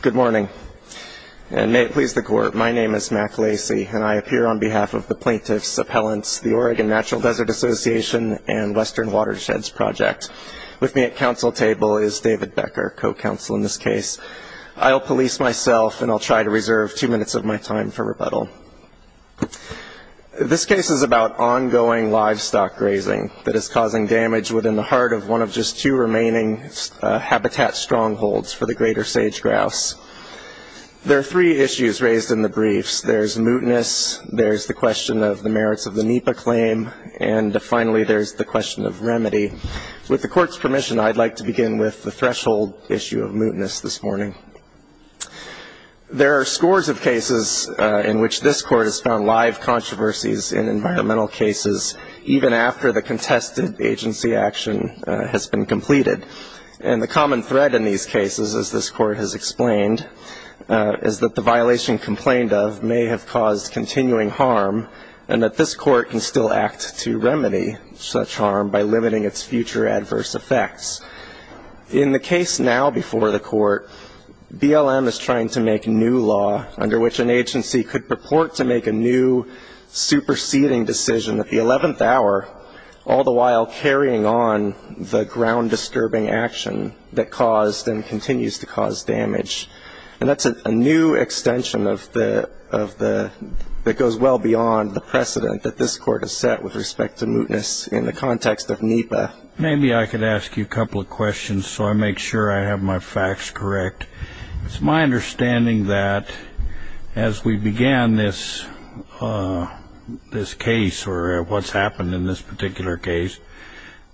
Good morning, and may it please the Court, my name is Mac Lacy, and I appear on behalf of the Plaintiff's Appellants, the Oregon Natural Desert Association, and Western Watersheds Project. With me at counsel table is David Becker, co-counsel in this case. I'll police myself, and I'll try to reserve two minutes of my time for rebuttal. This case is about ongoing livestock grazing that is causing damage within the heart of one of just two remaining habitat strongholds for the greater sage-grouse. There are three issues raised in the briefs. There's mootness, there's the question of the merits of the NEPA claim, and finally, there's the question of remedy. With the Court's permission, I'd like to begin with the threshold issue of mootness this morning. There are scores of cases in which this Court has found live controversies in environmental cases, even after the contested agency action has been completed. And the common thread in these cases, as this Court has explained, is that the violation complained of may have caused continuing harm, and that this Court can still act to remedy such harm by limiting its future adverse effects. In the case now before the Court, BLM is trying to make new law under which an agency could purport to make a new, superseding decision at the 11th hour, all the while carrying on the ground-discurbing action that caused and continues to cause damage. And that's a new extension that goes well beyond the precedent that this Court has set with respect to mootness in the context of NEPA. Maybe I could ask you a couple of questions so I make sure I have my facts correct. It's my understanding that as we began this case, or what's happened in this particular case,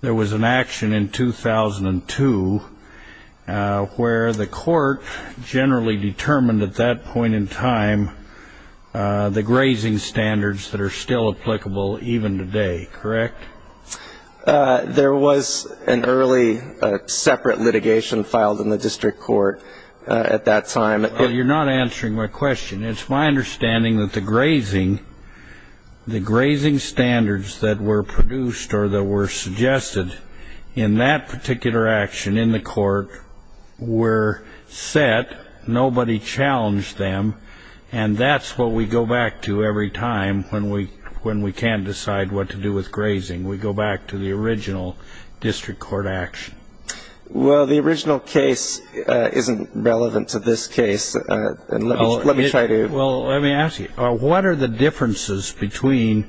there was an action in 2002 where the Court generally determined at that point in time the grazing standards that are still applicable even today, correct? There was an early separate litigation filed in the district court at that time. Well, you're not answering my question. It's my understanding that the grazing standards that were produced or that were suggested in that particular action in the court were set. Nobody challenged them. And that's what we go back to every time when we can't decide what to do with grazing. We go back to the original district court action. Well, the original case isn't relevant to this case. Let me try to ---- Well, let me ask you, what are the differences between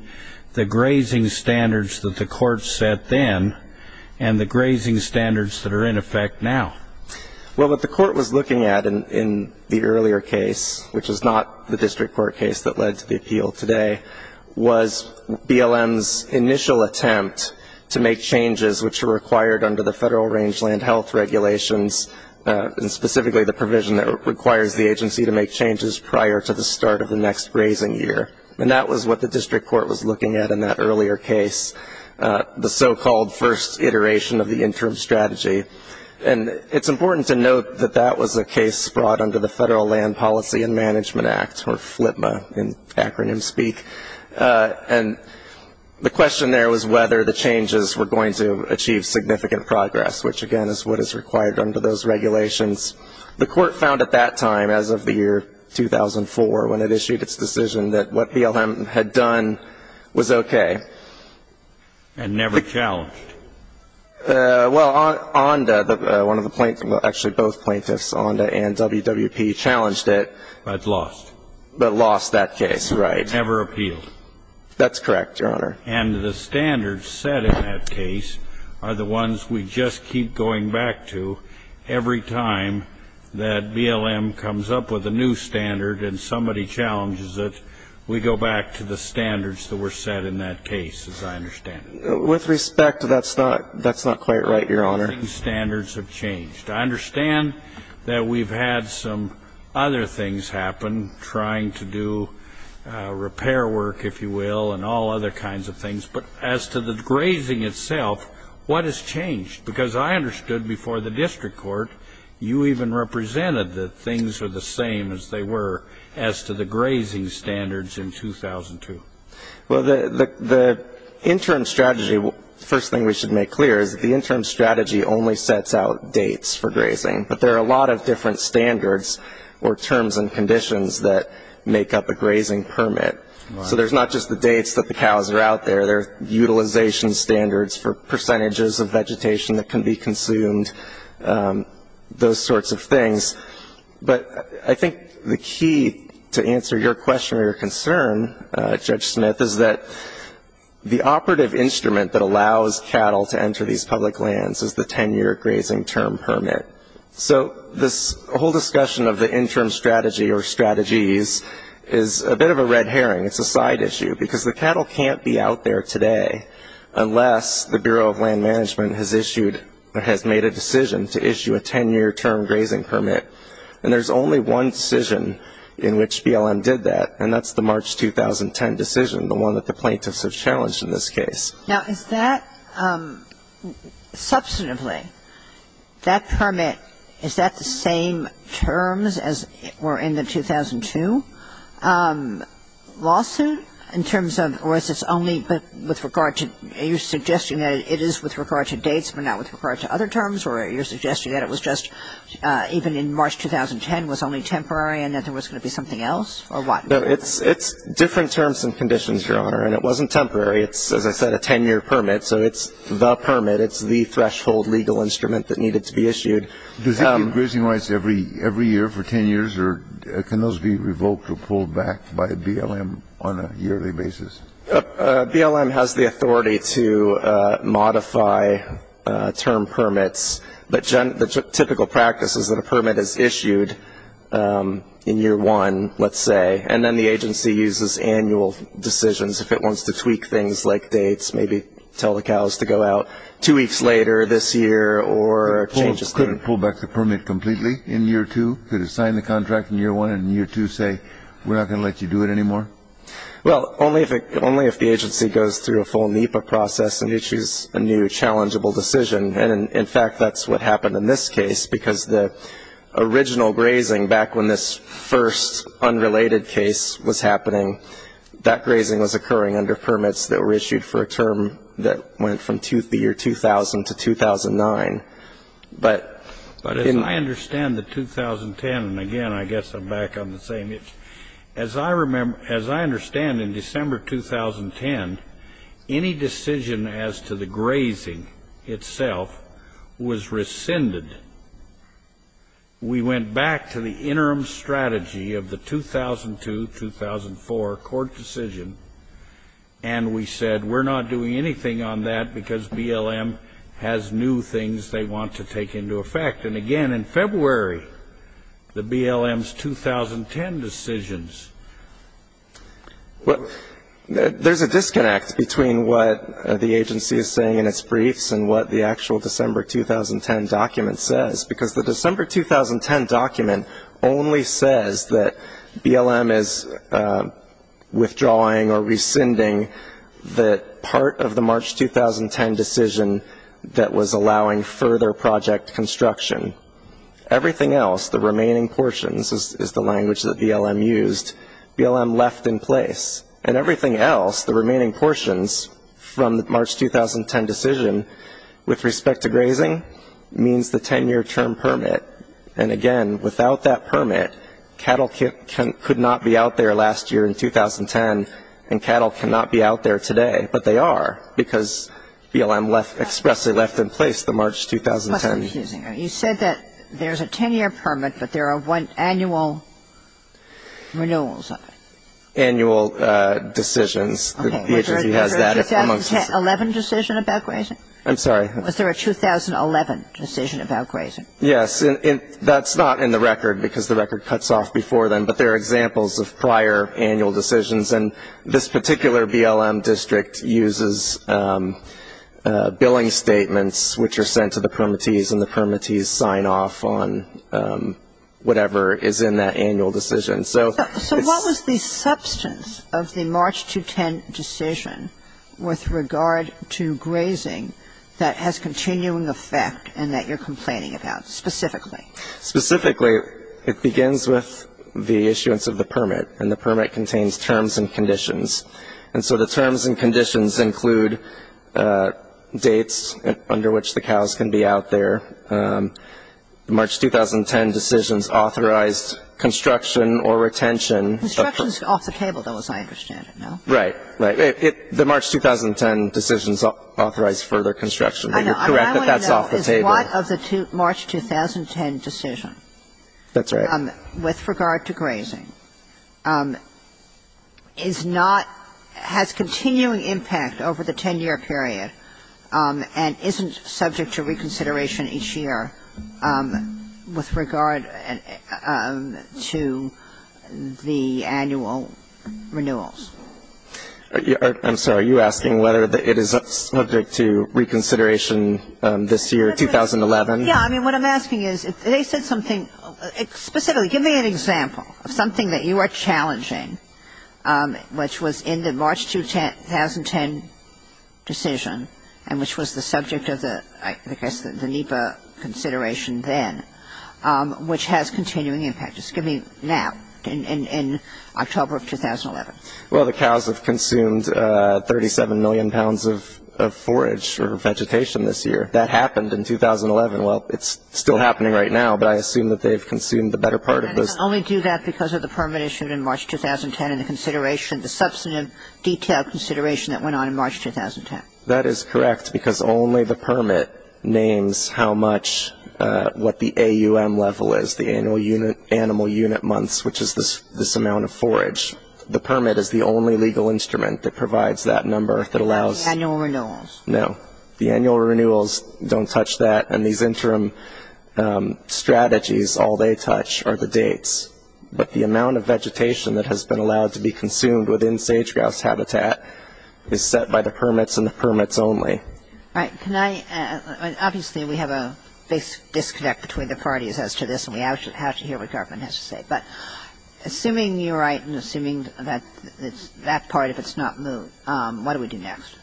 the grazing standards that the Court set then and the grazing standards that are in effect now? Well, what the Court was looking at in the earlier case, which is not the district court case that led to the appeal today, was BLM's initial attempt to make changes which were required under the federal rangeland health regulations, and specifically the provision that requires the agency to make changes prior to the start of the next grazing year. And that was what the district court was looking at in that earlier case, the so-called first iteration of the interim strategy. And it's important to note that that was a case brought under the Federal Land Policy and Management Act, or FLPMA in acronyms speak. And the question there was whether the changes were going to achieve significant progress, which, again, is what is required under those regulations. The Court found at that time, as of the year 2004 when it issued its decision, that what BLM had done was okay. And never challenged? Well, ONDA, one of the plaintiffs, well, actually both plaintiffs, ONDA and WWP challenged it. But lost. But lost that case. Right. Never appealed. That's correct, Your Honor. And the standards set in that case are the ones we just keep going back to every time that BLM comes up with a new standard and somebody challenges it, we go back to the standards that were set in that case, as I understand it. With respect, that's not quite right, Your Honor. Standards have changed. I understand that we've had some other things happen, trying to do repair work, if you will, and all other kinds of things. But as to the grazing itself, what has changed? Because I understood before the district court you even represented that things were the same as they were as to the grazing standards in 2002. Well, the interim strategy, the first thing we should make clear is that the interim strategy only sets out dates for grazing. But there are a lot of different standards or terms and conditions that make up a grazing permit. So there's not just the dates that the cows are out there. There are utilization standards for percentages of vegetation that can be consumed, those sorts of things. But I think the key to answer your question or your concern, Judge Smith, is that the operative instrument that allows cattle to enter these public lands is the 10-year grazing term permit. So this whole discussion of the interim strategy or strategies is a bit of a red herring. It's a side issue because the cattle can't be out there today unless the Bureau of Land Management has issued or has made a decision to issue a 10-year term grazing permit. And there's only one decision in which BLM did that, and that's the March 2010 decision, the one that the plaintiffs have challenged in this case. Now, is that, substantively, that permit, is that the same terms as were in the 2002 lawsuit in terms of, or is this only with regard to, are you suggesting that it is with regard to dates but not with regard to other terms, or are you suggesting that it was just, even in March 2010, was only temporary and that there was going to be something else, or what? No, it's different terms and conditions, Your Honor, and it wasn't temporary. It's, as I said, a 10-year permit, so it's the permit. It's the threshold legal instrument that needed to be issued. Does it give grazing rights every year for 10 years, or can those be revoked or pulled back by BLM on a yearly basis? BLM has the authority to modify term permits, but the typical practice is that a permit is issued in year one, let's say, and then the agency uses annual decisions if it wants to tweak things like dates, maybe tell the cows to go out two weeks later this year or change the state. Could it pull back the permit completely in year two? Could it sign the contract in year one and in year two say, we're not going to let you do it anymore? Well, only if the agency goes through a full NEPA process and issues a new, challengeable decision, and, in fact, that's what happened in this case because the original grazing, back when this first unrelated case was happening, that grazing was occurring under permits that were issued for a term that went from the year 2000 to 2009. But as I understand the 2010, and, again, I guess I'm back on the same, as I understand in December 2010, any decision as to the grazing itself was rescinded. We went back to the interim strategy of the 2002-2004 court decision, and we said we're not doing anything on that because BLM has new things they want to take into effect. And, again, in February, the BLM's 2010 decisions. There's a disconnect between what the agency is saying in its briefs and what the actual December 2010 document says because the December 2010 document only says that BLM is withdrawing or rescinding the part of the March 2010 decision that was allowing further project construction. Everything else, the remaining portions, is the language that BLM used, BLM left in place. And everything else, the remaining portions from the March 2010 decision, with respect to grazing means the 10-year term permit. And, again, without that permit, cattle could not be out there last year in 2010, and cattle cannot be out there today. But they are because BLM expressly left in place the March 2010. You said that there's a 10-year permit, but there are annual renewals on it. Annual decisions. The agency has that. Was there a 2011 decision about grazing? I'm sorry. Was there a 2011 decision about grazing? Yes. That's not in the record because the record cuts off before then, but there are examples of prior annual decisions. And this particular BLM district uses billing statements which are sent to the permittees, and the permittees sign off on whatever is in that annual decision. So what was the substance of the March 2010 decision with regard to grazing that has continuing effect and that you're complaining about specifically? Specifically, it begins with the issuance of the permit, and the permit contains terms and conditions. And so the terms and conditions include dates under which the cows can be out there, March 2010 decisions authorized construction or retention. Construction is off the table, though, as I understand it, no? Right, right. The March 2010 decisions authorized further construction. But you're correct that that's off the table. I want to know is what of the March 2010 decision. That's right. With regard to grazing, is not, has continuing impact over the 10-year period and isn't subject to reconsideration each year with regard to the annual renewals? I'm sorry. Are you asking whether it is subject to reconsideration this year, 2011? Yeah. I mean, what I'm asking is if they said something specifically. Give me an example of something that you are challenging, which was in the March 2010 decision, and which was the subject of the NEPA consideration then, which has continuing impact. Just give me now, in October of 2011. Well, the cows have consumed 37 million pounds of forage or vegetation this year. That happened in 2011. Well, it's still happening right now, but I assume that they've consumed the better part of those. And they can only do that because of the permit issued in March 2010 and the consideration, the substantive detailed consideration that went on in March 2010. That is correct, because only the permit names how much, what the AUM level is, the annual unit, animal unit months, which is this amount of forage. The permit is the only legal instrument that provides that number that allows. Annual renewals. No. The annual renewals don't touch that. And these interim strategies, all they touch are the dates. But the amount of vegetation that has been allowed to be consumed within sage-grouse habitat is set by the permits and the permits only. Right. Obviously, we have a disconnect between the parties as to this, and we have to hear what government has to say. But assuming you're right and assuming that part, if it's not moved, what do we do next?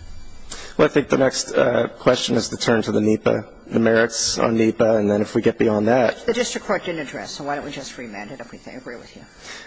Well, I think the next question is to turn to the NEPA, the merits on NEPA. And then if we get beyond that ---- The district court didn't address, so why don't we just remand it if they agree with you?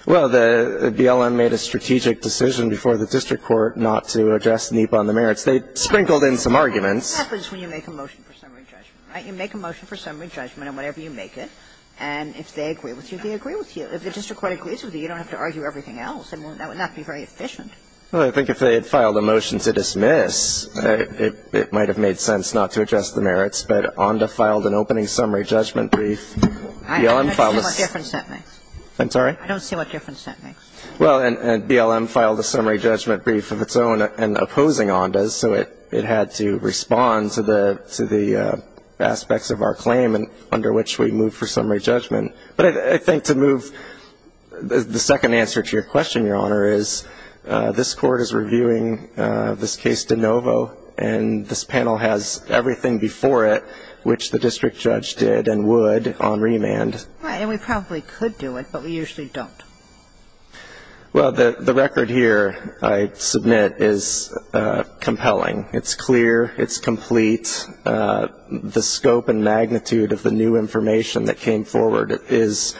Well, BLM made a strategic decision before the district court not to address NEPA on the merits. They sprinkled in some arguments. That's what happens when you make a motion for summary judgment, right? You make a motion for summary judgment on whatever you make it, and if they agree with you, they agree with you. If the district court agrees with you, you don't have to argue everything else. That would not be very efficient. Well, I think if they had filed a motion to dismiss, it might have made sense not to address the merits. But ONDA filed an opening summary judgment brief. BLM filed a ---- I don't see what difference that makes. I'm sorry? I don't see what difference that makes. Well, and BLM filed a summary judgment brief of its own and opposing ONDA's, so it had to respond to the aspects of our claim under which we moved for summary judgment. But I think to move the second answer to your question, Your Honor, is this Court is reviewing this case de novo, and this panel has everything before it which the district judge did and would on remand. Right. And we probably could do it, but we usually don't. Well, the record here I submit is compelling. It's clear. It's complete. The scope and magnitude of the new information that came forward is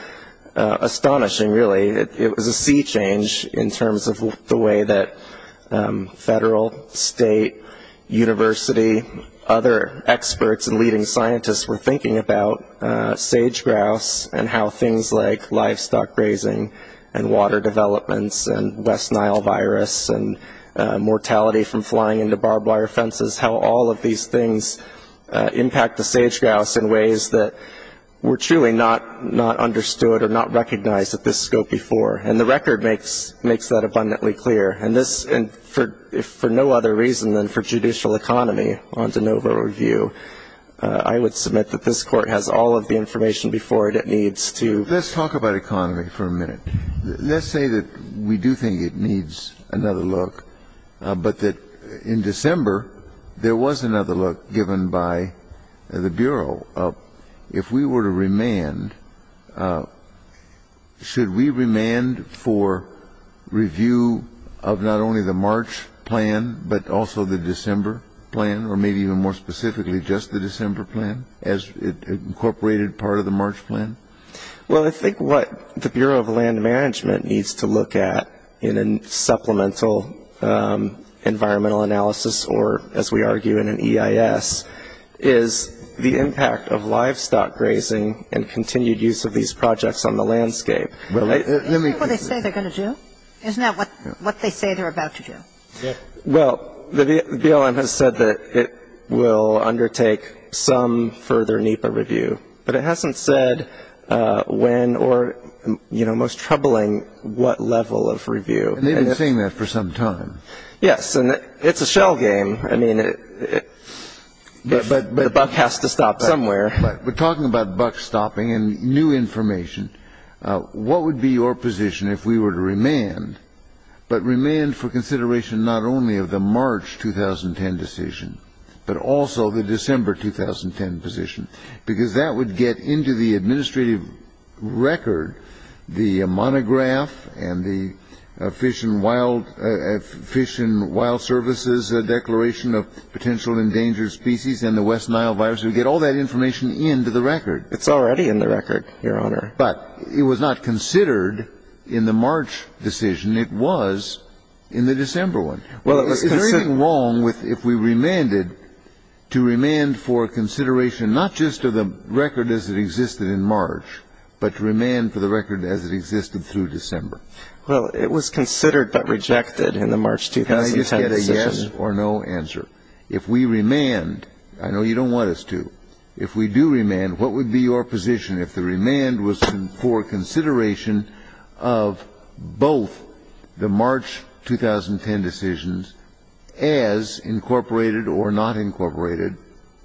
astonishing, really. It was a sea change in terms of the way that federal, state, university, other experts and leading scientists were thinking about sage-grouse and how things like livestock grazing and water developments and West Nile virus and mortality from flying into barbed wire fences, how all of these things impact the sage-grouse in ways that were truly not understood or not recognized at this scope before. And the record makes that abundantly clear. And this, for no other reason than for judicial economy on de novo review, I would submit that this Court has all of the information before it it needs to. Let's talk about economy for a minute. Let's say that we do think it needs another look, but that in December there was another look given by the Bureau. If we were to remand, should we remand for review of not only the March plan but also the December plan or maybe even more specifically just the December plan as incorporated part of the March plan? Well, I think what the Bureau of Land Management needs to look at in a supplemental environmental analysis or, as we argue in an EIS, is the impact of livestock grazing and continued use of these projects on the landscape. Isn't that what they say they're going to do? Isn't that what they say they're about to do? Well, the BLM has said that it will undertake some further NEPA review, but it hasn't said when or, you know, most troubling what level of review. And they've been saying that for some time. Yes. And it's a shell game. I mean, the buck has to stop somewhere. But talking about buck stopping and new information, what would be your position if we were to remand, but remand for consideration not only of the March 2010 decision but also the December 2010 position? Because that would get into the administrative record, the monograph and the Fish and Wild Services Declaration of Potential Endangered Species and the West Nile virus. It would get all that information into the record. It's already in the record, Your Honor. But it was not considered in the March decision. It was in the December one. Is there anything wrong if we remanded to remand for consideration not just of the record as it existed in March but to remand for the record as it existed through December? Well, it was considered but rejected in the March 2010 decision. Can I just get a yes or no answer? If we remand, I know you don't want us to, if we do remand, what would be your position if the remand was for consideration of both the March 2010 decisions as incorporated or not incorporated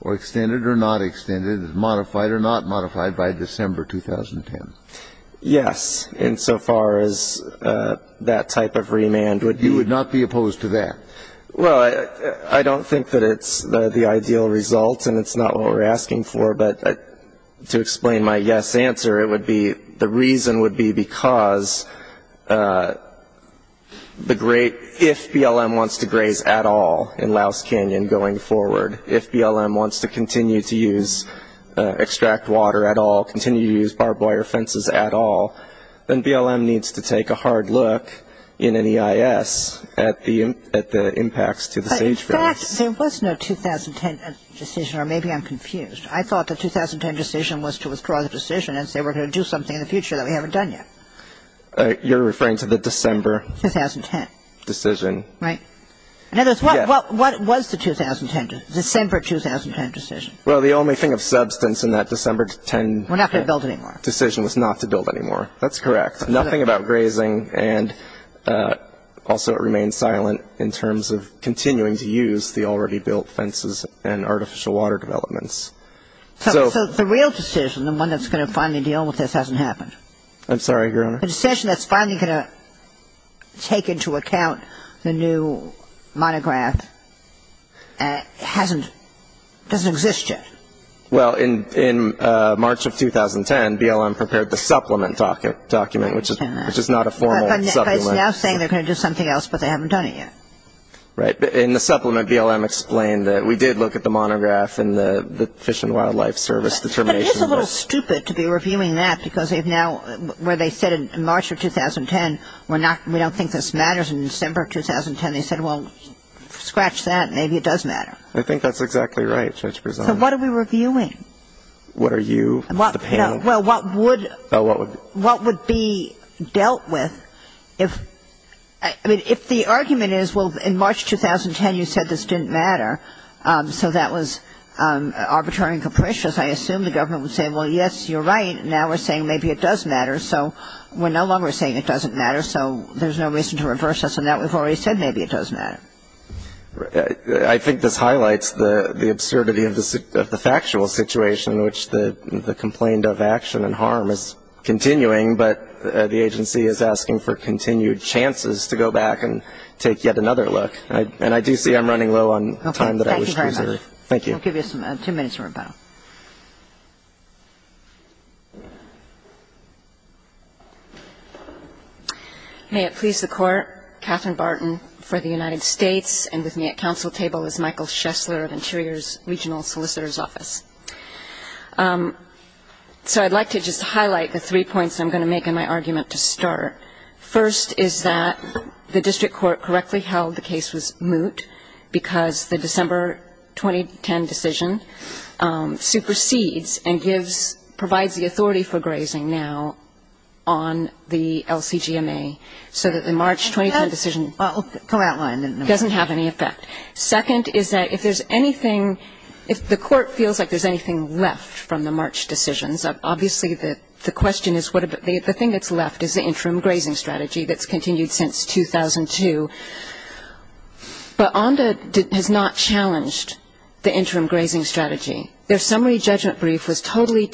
or extended or not extended, as modified or not modified by December 2010? Yes, insofar as that type of remand would be. You would not be opposed to that? Well, I don't think that it's the ideal result, and it's not what we're asking for. But to explain my yes answer, it would be the reason would be because the great, if BLM wants to graze at all in Louse Canyon going forward, if BLM wants to continue to use, extract water at all, continue to use barbed wire fences at all, then BLM needs to take a hard look in an EIS at the impacts to the sage fence. In fact, there was no 2010 decision, or maybe I'm confused. I thought the 2010 decision was to withdraw the decision and say we're going to do something in the future that we haven't done yet. You're referring to the December 2010 decision. Right. In other words, what was the 2010, December 2010 decision? Well, the only thing of substance in that December 2010 decision was not to build anymore. That's correct. Nothing about grazing, and also it remained silent in terms of continuing to use the already built fences and artificial water developments. So the real decision, the one that's going to finally deal with this, hasn't happened. I'm sorry, Your Honor. The decision that's finally going to take into account the new monograph hasn't, doesn't exist yet. Well, in March of 2010, BLM prepared the supplement document, which is not a formal supplement. But it's now saying they're going to do something else, but they haven't done it yet. Right. In the supplement, BLM explained that we did look at the monograph and the Fish and Wildlife Service determination. But it is a little stupid to be reviewing that because they've now, where they said in March of 2010, we're not, we don't think this matters in December of 2010. They said, well, scratch that, maybe it does matter. I think that's exactly right, Judge Prezone. So what are we reviewing? What are you, the panel? Well, what would, what would be dealt with if, I mean, if the argument is, well, in March 2010, you said this didn't matter. So that was arbitrary and capricious. I assume the government would say, well, yes, you're right. Now we're saying maybe it does matter. So we're no longer saying it doesn't matter. So there's no reason to reverse us on that. We've already said maybe it does matter. I think this highlights the absurdity of the factual situation, which the complaint of action and harm is continuing. But the agency is asking for continued chances to go back and take yet another look. And I do see I'm running low on time that I wish to reserve. Okay. Thank you very much. Thank you. I'll give you some, two minutes more, panel. May it please the Court. Katherine Barton for the United States. And with me at council table is Michael Schessler of Interior's Regional Solicitor's Office. So I'd like to just highlight the three points I'm going to make in my argument to start. First is that the district court correctly held the case was moot because the December 2010 decision supersedes and provides the authority for grazing now on the LCGMA, so that the March 2010 decision doesn't have any effect. Second is that if there's anything, if the court feels like there's anything left from the March decisions, obviously the question is what, the thing that's left is the interim grazing strategy that's continued since 2002. But ONDA has not challenged the interim grazing strategy. Their summary judgment brief was totally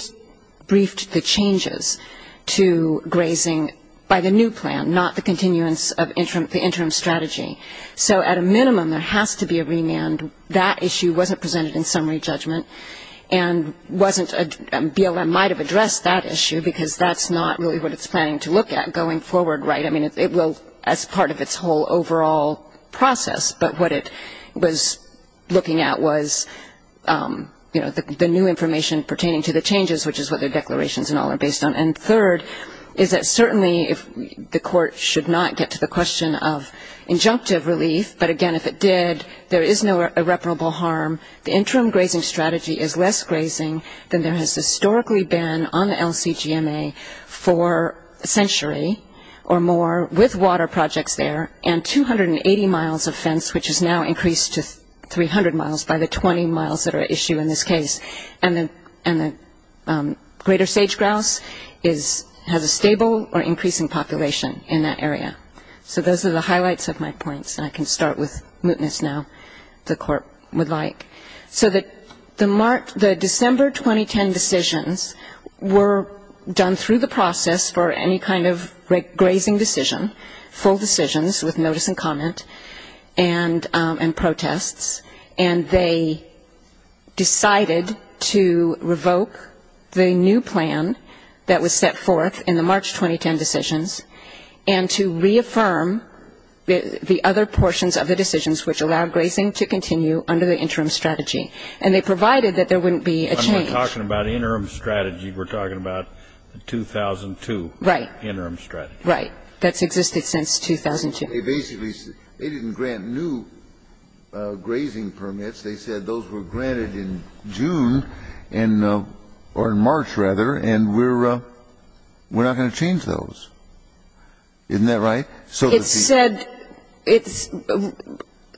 briefed the changes to grazing by the new plan, not the continuance of the interim strategy. So at a minimum, there has to be a remand. That issue wasn't presented in summary judgment and wasn't, BLM might have addressed that issue because that's not really what it's planning to look at going forward, right? I mean, it will, as part of its whole overall process. But what it was looking at was, you know, the new information pertaining to the changes, which is what their declarations and all are based on. And third is that certainly the court should not get to the question of injunctive relief. But again, if it did, there is no irreparable harm. The interim grazing strategy is less grazing than there has historically been on the LCGMA for a century or more, with water projects there and 280 miles of fence, which is now increased to 300 miles by the 20 miles that are at issue in this case. And the greater sage-grouse has a stable or increasing population in that area. So those are the highlights of my points. And I can start with mootness now, if the court would like. So the December 2010 decisions were done through the process for any kind of grazing decision, full decisions with notice and comment and protests. And they decided to revoke the new plan that was set forth in the March 2010 decisions and to reaffirm the other portions of the decisions which allowed grazing to continue under the interim strategy. And they provided that there wouldn't be a change. I'm not talking about interim strategy. We're talking about the 2002 interim strategy. That's existed since 2002. They didn't grant new grazing permits. They said those were granted in June or in March, rather, and we're not going to change those. Isn't that right? It said it's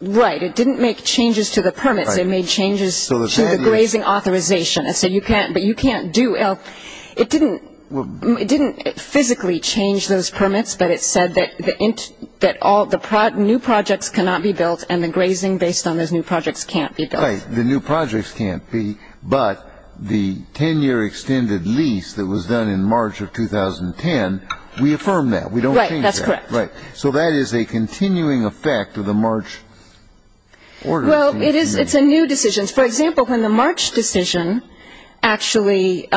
right. It didn't make changes to the permits. It made changes to the grazing authorization. But you can't do L. It didn't physically change those permits, but it said that the new projects cannot be built and the grazing based on those new projects can't be built. Right. The new projects can't be. But the 10-year extended lease that was done in March of 2010, we affirm that. We don't change that. Right. That's correct. Right. So that is a continuing effect of the March order. Well, it's a new decision. For example, when the March decision actually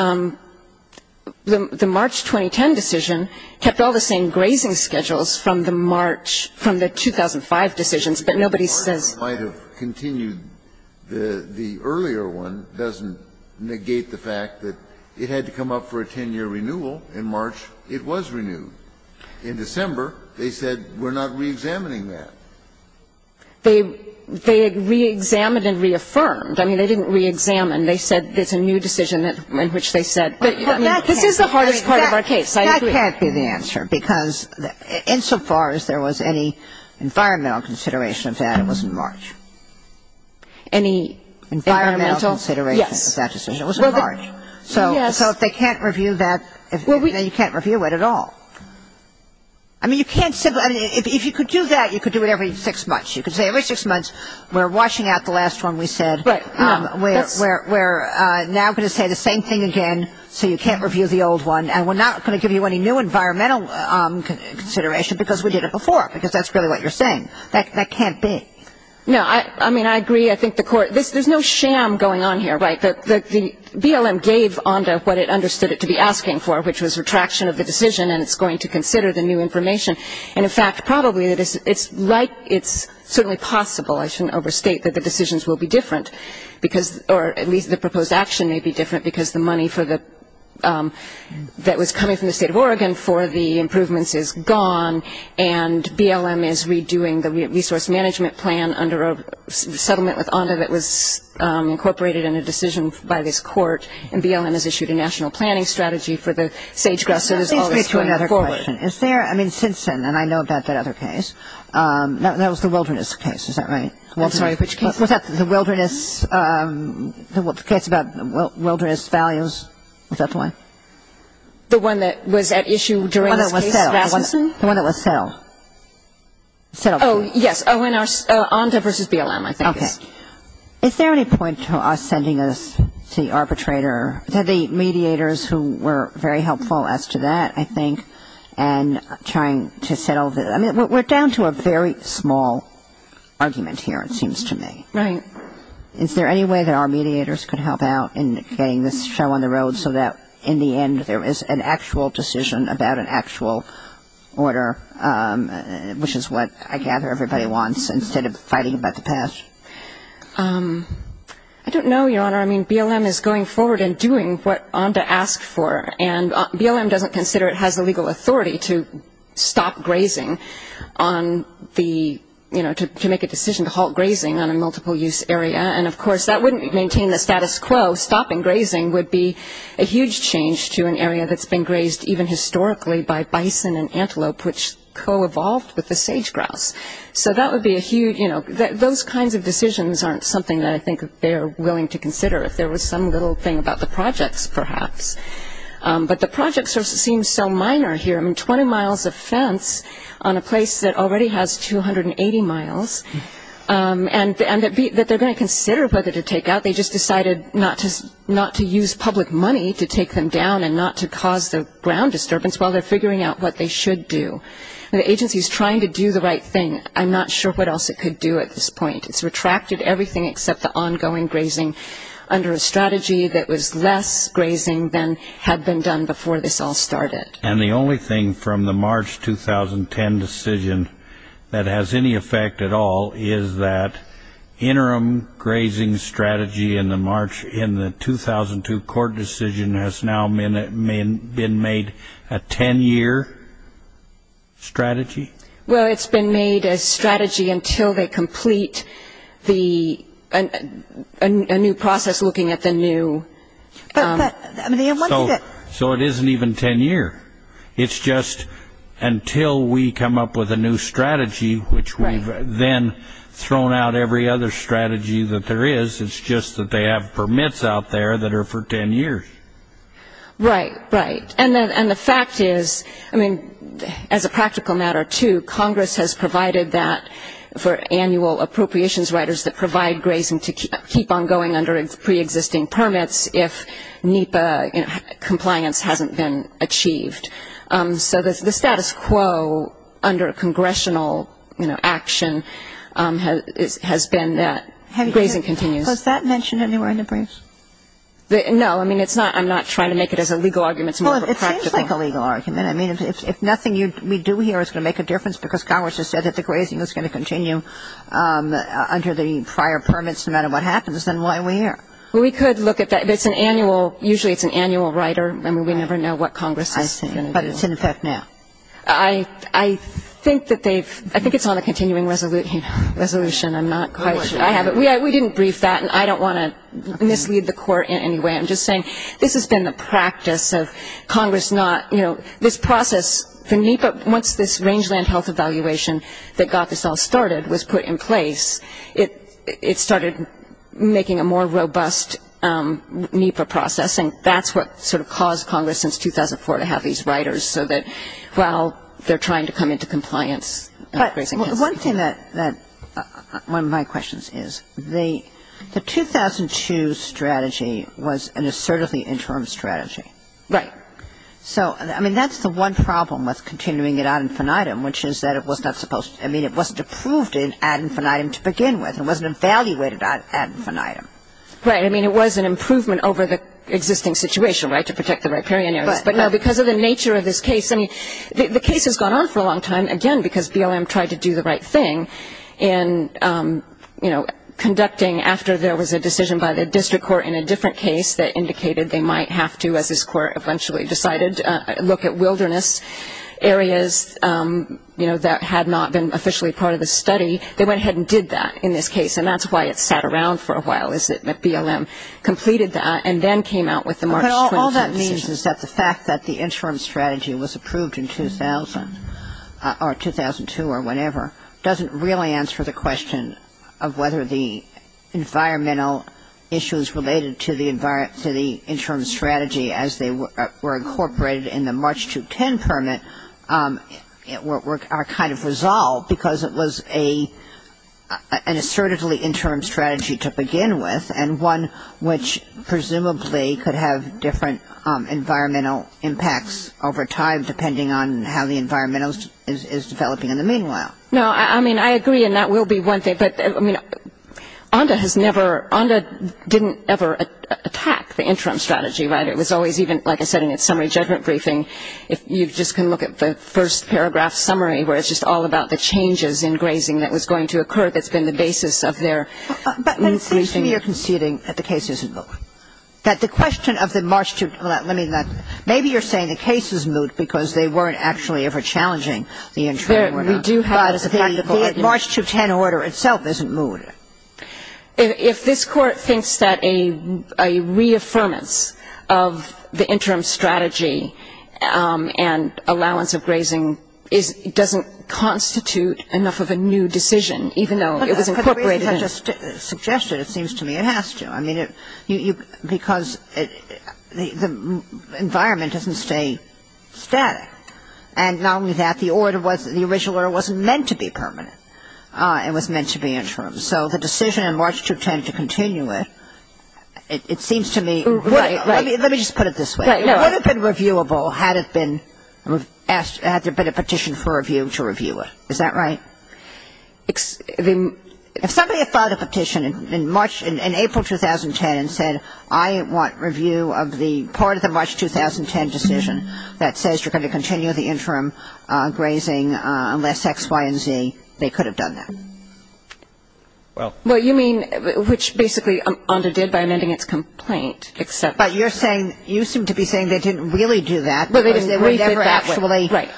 the March 2010 decision kept all the same grazing schedules from the March from the 2005 decisions, but nobody says. It might have continued. The earlier one doesn't negate the fact that it had to come up for a 10-year renewal. In March, it was renewed. In December, they said we're not reexamining that. They reexamined and reaffirmed. I mean, they didn't reexamine. They said it's a new decision in which they said. This is the hardest part of our case. I agree. That can't be the answer because insofar as there was any environmental consideration of that, it wasn't March. Any environmental? Environmental consideration of that decision. Yes. It wasn't March. So if they can't review that, then you can't review it at all. I mean, you can't simply. If you could do that, you could do it every six months. You could say every six months we're washing out the last one we said. Right. We're now going to say the same thing again so you can't review the old one, and we're not going to give you any new environmental consideration because we did it before, because that's really what you're saying. That can't be. No. I mean, I agree. I think the court. There's no sham going on here, right? The BLM gave on to what it understood it to be asking for, which was retraction of the decision and it's going to consider the new information. And, in fact, probably it's certainly possible, I shouldn't overstate, that the decisions will be different or at least the proposed action may be different because the money that was coming from the state of Oregon for the improvements is gone and BLM is redoing the resource management plan under a settlement with ONDA that was incorporated in a decision by this court, and BLM has issued a national planning strategy for the sage grasses. Let me switch to another question. Is there, I mean, Simpson, and I know about that other case. That was the wilderness case, is that right? I'm sorry, which case? Was that the wilderness, the case about wilderness values? Was that the one? The one that was at issue during this case, Rasmussen? The one that was settled. Oh, yes. ONDA versus BLM, I think. Okay. Is there any point to us sending this to the arbitrator, to the mediators who were very helpful as to that, I think, and trying to settle this? I mean, we're down to a very small argument here, it seems to me. Right. Is there any way that our mediators could help out in getting this show on the road so that in the end there is an actual decision about an actual order, which is what I gather everybody wants instead of fighting about the past? I don't know, Your Honor. I mean, BLM is going forward and doing what ONDA asked for. And BLM doesn't consider it has the legal authority to stop grazing on the, you know, to make a decision to halt grazing on a multiple-use area. And, of course, that wouldn't maintain the status quo. Stopping grazing would be a huge change to an area that's been grazed even historically by bison and antelope, which co-evolved with the sage-grouse. So that would be a huge, you know, those kinds of decisions aren't something that I think they're willing to consider, if there was some little thing about the projects, perhaps. But the projects seem so minor here. I mean, 20 miles of fence on a place that already has 280 miles, and that they're going to consider whether to take out. They just decided not to use public money to take them down and not to cause the ground disturbance while they're figuring out what they should do. The agency is trying to do the right thing. I'm not sure what else it could do at this point. It's retracted everything except the ongoing grazing under a strategy that was less grazing than had been done before this all started. And the only thing from the March 2010 decision that has any effect at all is that interim grazing strategy in the March in the 2002 court decision has now been made a 10-year strategy? Well, it's been made a strategy until they complete a new process looking at the new. So it isn't even 10-year. It's just until we come up with a new strategy, which we've then thrown out every other strategy that there is, it's just that they have permits out there that are for 10 years. Right, right. And the fact is, I mean, as a practical matter, too, Congress has provided that for annual appropriations writers that provide grazing to keep on going under preexisting permits if NEPA compliance hasn't been achieved. So the status quo under congressional action has been that grazing continues. Was that mentioned anywhere in the briefs? No, I mean, it's not. I'm not trying to make it as a legal argument. Well, it seems like a legal argument. I mean, if nothing we do here is going to make a difference because Congress has said that the grazing is going to continue under the prior permits no matter what happens, then why are we here? Well, we could look at that. It's an annual – usually it's an annual writer. I mean, we never know what Congress is going to do. I see. But it's in effect now. I think that they've – I think it's on the continuing resolution. I'm not quite sure. I have it. We didn't brief that, and I don't want to mislead the court in any way. I'm just saying this has been the practice of Congress not – you know, this process for NEPA, once this rangeland health evaluation that got this all started was put in place, it started making a more robust NEPA process, and that's what sort of caused Congress since 2004 to have these writers, so that while they're trying to come into compliance, grazing can't. But one thing that – one of my questions is the 2002 strategy was an assertively interim strategy. Right. So, I mean, that's the one problem with continuing it ad infinitum, which is that it was not supposed – I mean, it wasn't approved ad infinitum to begin with. It wasn't evaluated ad infinitum. Right. I mean, it was an improvement over the existing situation, right, to protect the riparian areas. But, no, because of the nature of this case – I mean, the case has gone on for a long time, again, because BLM tried to do the right thing in, you know, conducting after there was a decision by the district court in a different case that indicated they might have to, as this court eventually decided, look at wilderness areas, you know, that had not been officially part of the study. They went ahead and did that in this case, and that's why it sat around for a while is that BLM completed that and then came out with the March 23 decision. But all that means is that the fact that the interim strategy was approved in 2000 or 2002 or whenever doesn't really answer the question of whether the environmental issues related to the interim strategy as they were incorporated in the March 2010 permit are kind of resolved, because it was an assertively interim strategy to begin with and one which presumably could have different environmental impacts over time, depending on how the environment is developing in the meanwhile. No, I mean, I agree, and that will be one thing. But, I mean, ONDA has never – ONDA didn't ever attack the interim strategy, right? It was always even, like I said in its summary judgment briefing, if you just can look at the first paragraph summary where it's just all about the changes in grazing that was going to occur that's been the basis of their briefing. But then it seems to me you're conceding that the case is moot, that the question of the March – well, let me – maybe you're saying the case is moot because they weren't actually ever challenging the interim or not. We do have a practical argument. But the March 2010 order itself isn't moot. If this Court thinks that a reaffirmance of the interim strategy and allowance of grazing doesn't constitute enough of a new decision, even though it was incorporated in – But the reasons I just suggested, it seems to me it has to. I mean, because the environment doesn't stay static. And not only that, the order was – the original order wasn't meant to be permanent. It was meant to be interim. So the decision in March 2010 to continue it, it seems to me – Right, right. Let me just put it this way. It would have been reviewable had it been – had there been a petition for review to review it. Is that right? If somebody had filed a petition in March – in April 2010 and said, I want review of the part of the March 2010 decision that says you're going to continue the interim grazing unless X, Y, and Z, they could have done that. Well, you mean – which basically ONDA did by amending its complaint. But you're saying – you seem to be saying they didn't really do that. Because they were never actually – Right.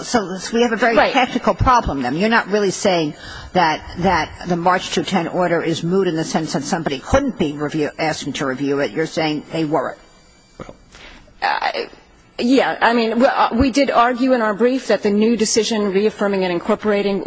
So we have a very practical problem then. You're not really saying that the March 2010 order is moot in the sense that somebody couldn't be asking to review it. You're saying they weren't. Well, yeah. I mean, we did argue in our brief that the new decision, reaffirming and incorporating,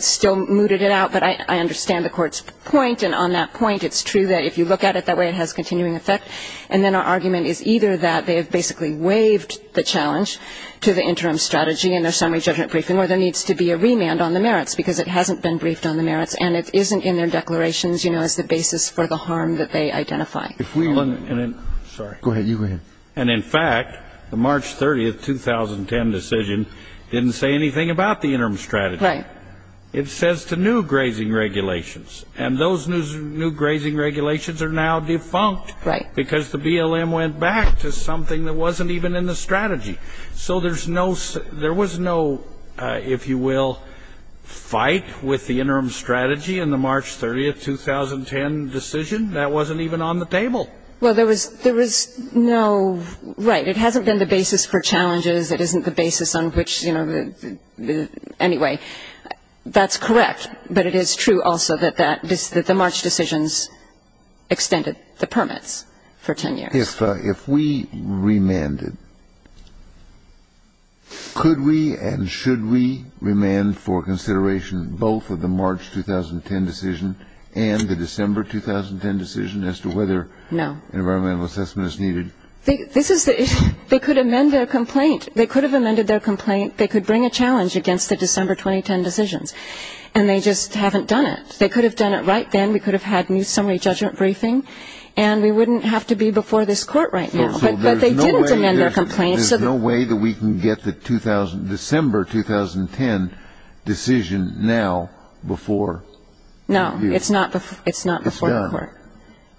still mooted it out. But I understand the Court's point. And on that point, it's true that if you look at it that way, it has continuing effect. And then our argument is either that they have basically waived the challenge to the interim strategy or there needs to be a remand on the merits because it hasn't been briefed on the merits and it isn't in their declarations, you know, as the basis for the harm that they identify. If we – sorry. Go ahead. You go ahead. And, in fact, the March 30, 2010 decision didn't say anything about the interim strategy. Right. It says to new grazing regulations. And those new grazing regulations are now defunct. Right. Because the BLM went back to something that wasn't even in the strategy. So there's no – there was no, if you will, fight with the interim strategy in the March 30, 2010 decision. That wasn't even on the table. Well, there was no – right. It hasn't been the basis for challenges. It isn't the basis on which, you know – anyway, that's correct. But it is true also that that – that the March decisions extended the permits for 10 years. If we remanded, could we and should we remand for consideration both of the March 2010 decision and the December 2010 decision as to whether an environmental assessment is needed? No. This is the issue. They could amend their complaint. They could have amended their complaint. They could bring a challenge against the December 2010 decisions. And they just haven't done it. They could have done it right then. We could have had new summary judgment briefing. And we wouldn't have to be before this court right now. But they didn't amend their complaint. So there's no way that we can get the December 2010 decision now before you. No. It's not before the court. It's done.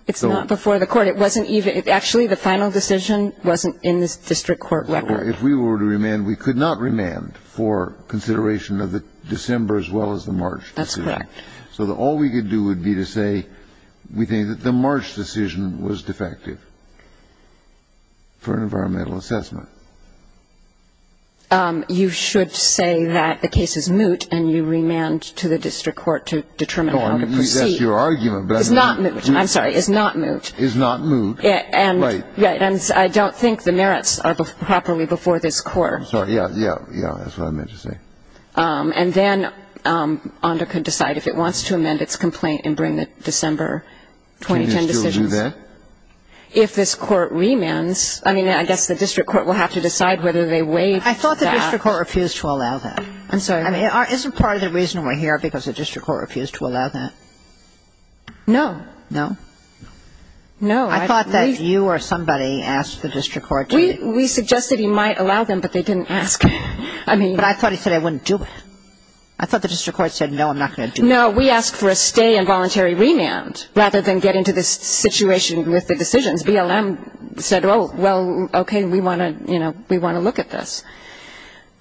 It's not before the court. It wasn't even – actually, the final decision wasn't in the district court record. If we were to remand, we could not remand for consideration of the December as well as the March decision. That's correct. So all we could do would be to say we think that the March decision was defective for an environmental assessment. You should say that the case is moot and you remand to the district court to determine how to proceed. That's your argument. It's not moot. I'm sorry. It's not moot. It's not moot. Right. And I don't think the merits are properly before this court. Yeah, that's what I meant to say. And then ONDA could decide if it wants to amend its complaint and bring the December 2010 decisions. Can you still do that? If this court remands, I mean, I guess the district court will have to decide whether they waived that. I thought the district court refused to allow that. I'm sorry. I mean, isn't part of the reason we're here because the district court refused to allow that? No. No? No. I thought that you or somebody asked the district court. We suggested he might allow them, but they didn't ask. But I thought he said I wouldn't do it. I thought the district court said, no, I'm not going to do it. No, we asked for a stay and voluntary remand rather than get into this situation with the decisions. BLM said, oh, well, okay, we want to, you know, we want to look at this.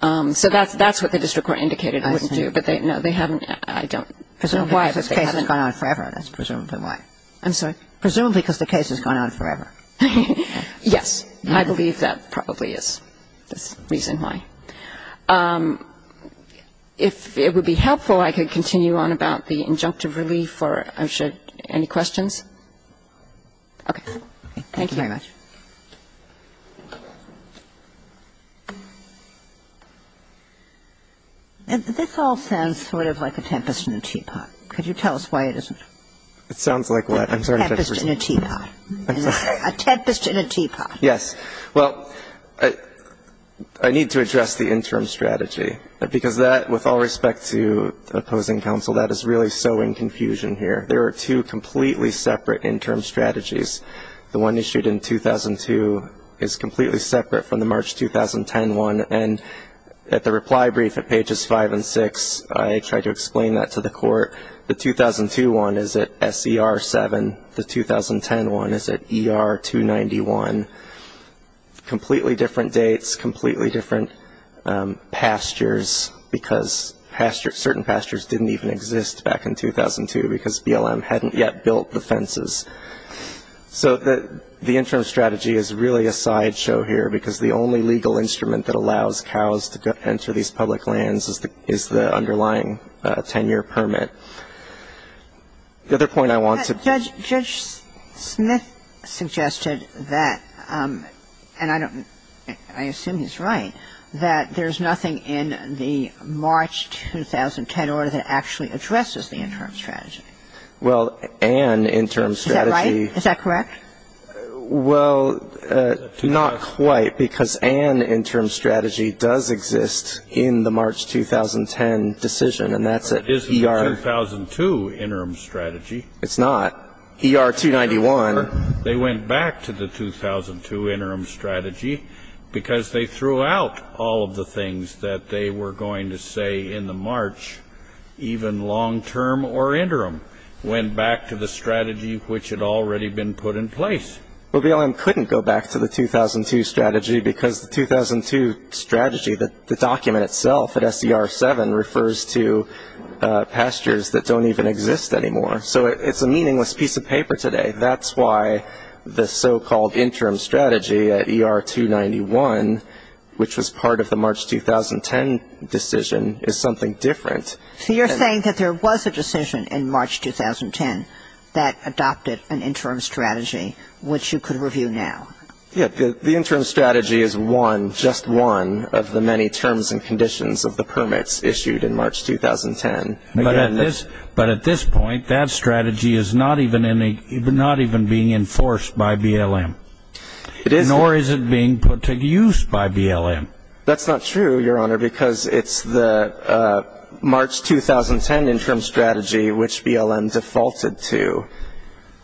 So that's what the district court indicated it wouldn't do. I see. No, they haven't. I don't know why. Presumably because the case has gone on forever. That's presumably why. I'm sorry. Presumably because the case has gone on forever. Yes. I believe that probably is the reason why. If it would be helpful, I could continue on about the injunctive relief or I should any questions? Okay. Thank you very much. This all sounds sort of like a tempest in a teapot. Could you tell us why it isn't? It sounds like what? I'm sorry. Tempest in a teapot. A tempest in a teapot. Yes. Well, I need to address the interim strategy. Because that, with all respect to opposing counsel, that is really so in confusion here. There are two completely separate interim strategies. The one issued in 2002 is completely separate from the March 2010 one. And at the reply brief at pages 5 and 6, I tried to explain that to the court. The 2002 one is at SER 7. The 2010 one is at ER 291. Completely different dates. Completely different pastures. Because certain pastures didn't even exist back in 2002 because BLM hadn't yet built the fences. So the interim strategy is really a sideshow here. Because the only legal instrument that allows cows to enter these public lands is the underlying 10-year permit. The other point I want to ---- Judge Smith suggested that, and I don't ---- I assume he's right, that there's nothing in the March 2010 order that actually addresses the interim strategy. Well, an interim strategy ---- Is that right? Is that correct? Well, not quite. Because an interim strategy does exist in the March 2010 decision. And that's at ER ---- But it isn't the 2002 interim strategy. It's not. ER 291 ---- They went back to the 2002 interim strategy because they threw out all of the things that they were going to say in the March, even long-term or interim, went back to the strategy which had already been put in place. Well, BLM couldn't go back to the 2002 strategy because the 2002 strategy, the document itself at SDR 7, refers to pastures that don't even exist anymore. So it's a meaningless piece of paper today. That's why the so-called interim strategy at ER 291, which was part of the March 2010 decision, is something different. So you're saying that there was a decision in March 2010 that adopted an interim strategy, which you could review now. Yes. The interim strategy is one, just one, of the many terms and conditions of the permits issued in March 2010. But at this point, that strategy is not even being enforced by BLM. Nor is it being put to use by BLM. That's not true, Your Honor, because it's the March 2010 interim strategy which BLM defaulted to.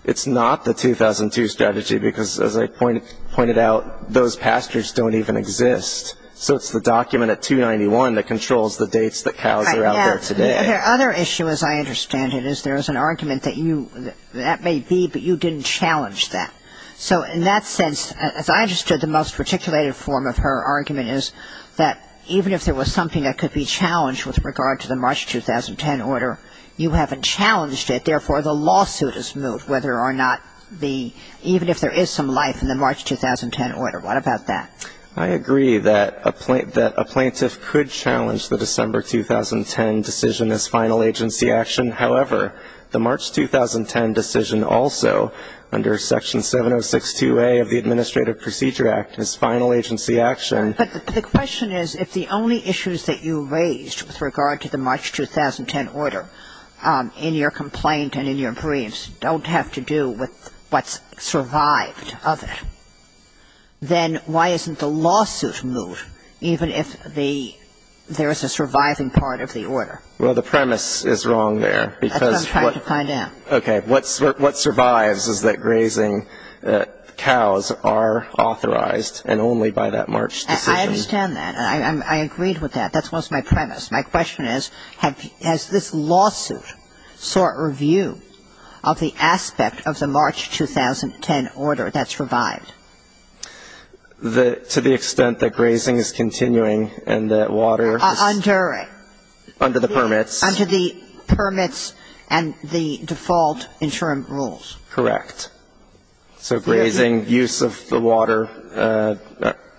It's not the 2002 strategy because, as I pointed out, those pastures don't even exist. So it's the document at 291 that controls the dates that cows are out there today. Okay. Other issue, as I understand it, is there is an argument that you ---- that may be, but you didn't challenge that. So in that sense, as I understood, the most reticulated form of her argument is that even if there was something that could be challenged with regard to the March 2010 order, you haven't challenged it. Therefore, the lawsuit is moved, whether or not the ---- even if there is some life in the March 2010 order. What about that? I agree that a plaintiff could challenge the December 2010 decision as final agency action. However, the March 2010 decision also, under Section 7062A of the Administrative Procedure Act, is final agency action. But the question is, if the only issues that you raised with regard to the March 2010 order in your complaint and in your briefs don't have to do with what's survived of it, then why isn't the lawsuit moved, even if the ---- there is a surviving part of the order? Well, the premise is wrong there, because what ---- That's what I'm trying to find out. Okay. What survives is that grazing cows are authorized and only by that March decision. I understand that. I agreed with that. That was my premise. My question is, has this lawsuit sought review of the aspect of the March 2010 order that's revived? To the extent that grazing is continuing and that water is ---- Under it. Under the permits. Under the permits and the default insurance rules. Correct. So grazing, use of the water,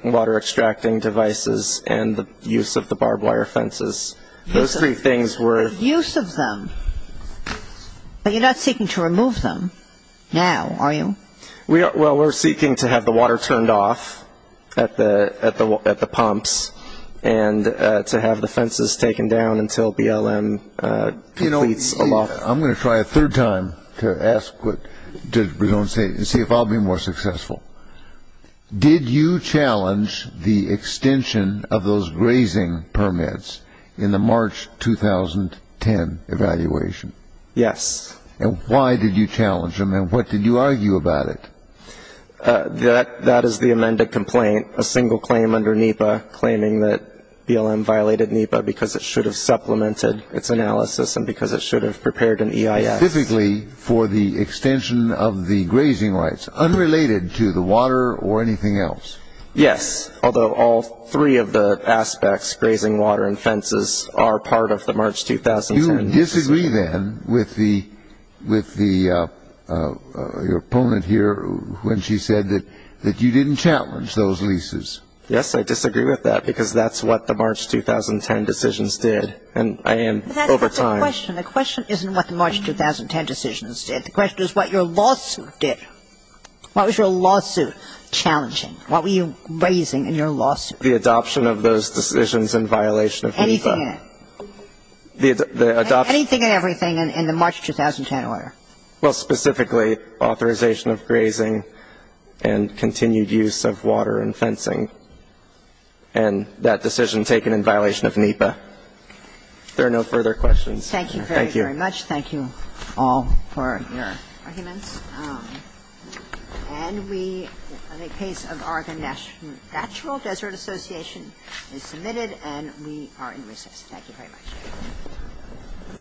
water-extracting devices, and the use of the barbed wire fences. Those three things were ---- Use of them. But you're not seeking to remove them now, are you? Well, we're seeking to have the water turned off at the pumps and to have the fences taken down until BLM completes a law ---- I'm going to try a third time to ask what Judge Bregon said and see if I'll be more successful. Did you challenge the extension of those grazing permits in the March 2010 evaluation? Yes. And why did you challenge them, and what did you argue about it? That is the amended complaint, a single claim under NEPA, claiming that BLM violated NEPA because it should have supplemented its analysis and because it should have prepared an EIS. Specifically for the extension of the grazing rights, unrelated to the water or anything else? Yes, although all three of the aspects, grazing, water, and fences, are part of the March 2010 ---- Do you disagree then with the opponent here when she said that you didn't challenge those leases? Yes, I disagree with that because that's what the March 2010 decisions did. And I am over time ---- But that's not the question. The question isn't what the March 2010 decisions did. The question is what your lawsuit did. What was your lawsuit challenging? What were you raising in your lawsuit? The adoption of those decisions in violation of NEPA. Anything in it? The adoption ---- Anything and everything in the March 2010 order? Well, specifically authorization of grazing and continued use of water and fencing and that decision taken in violation of NEPA. If there are no further questions, thank you. Thank you very, very much. Thank you all for your arguments. And we ---- the case of Argonne National Desert Association is submitted and we are in recess. Thank you very much.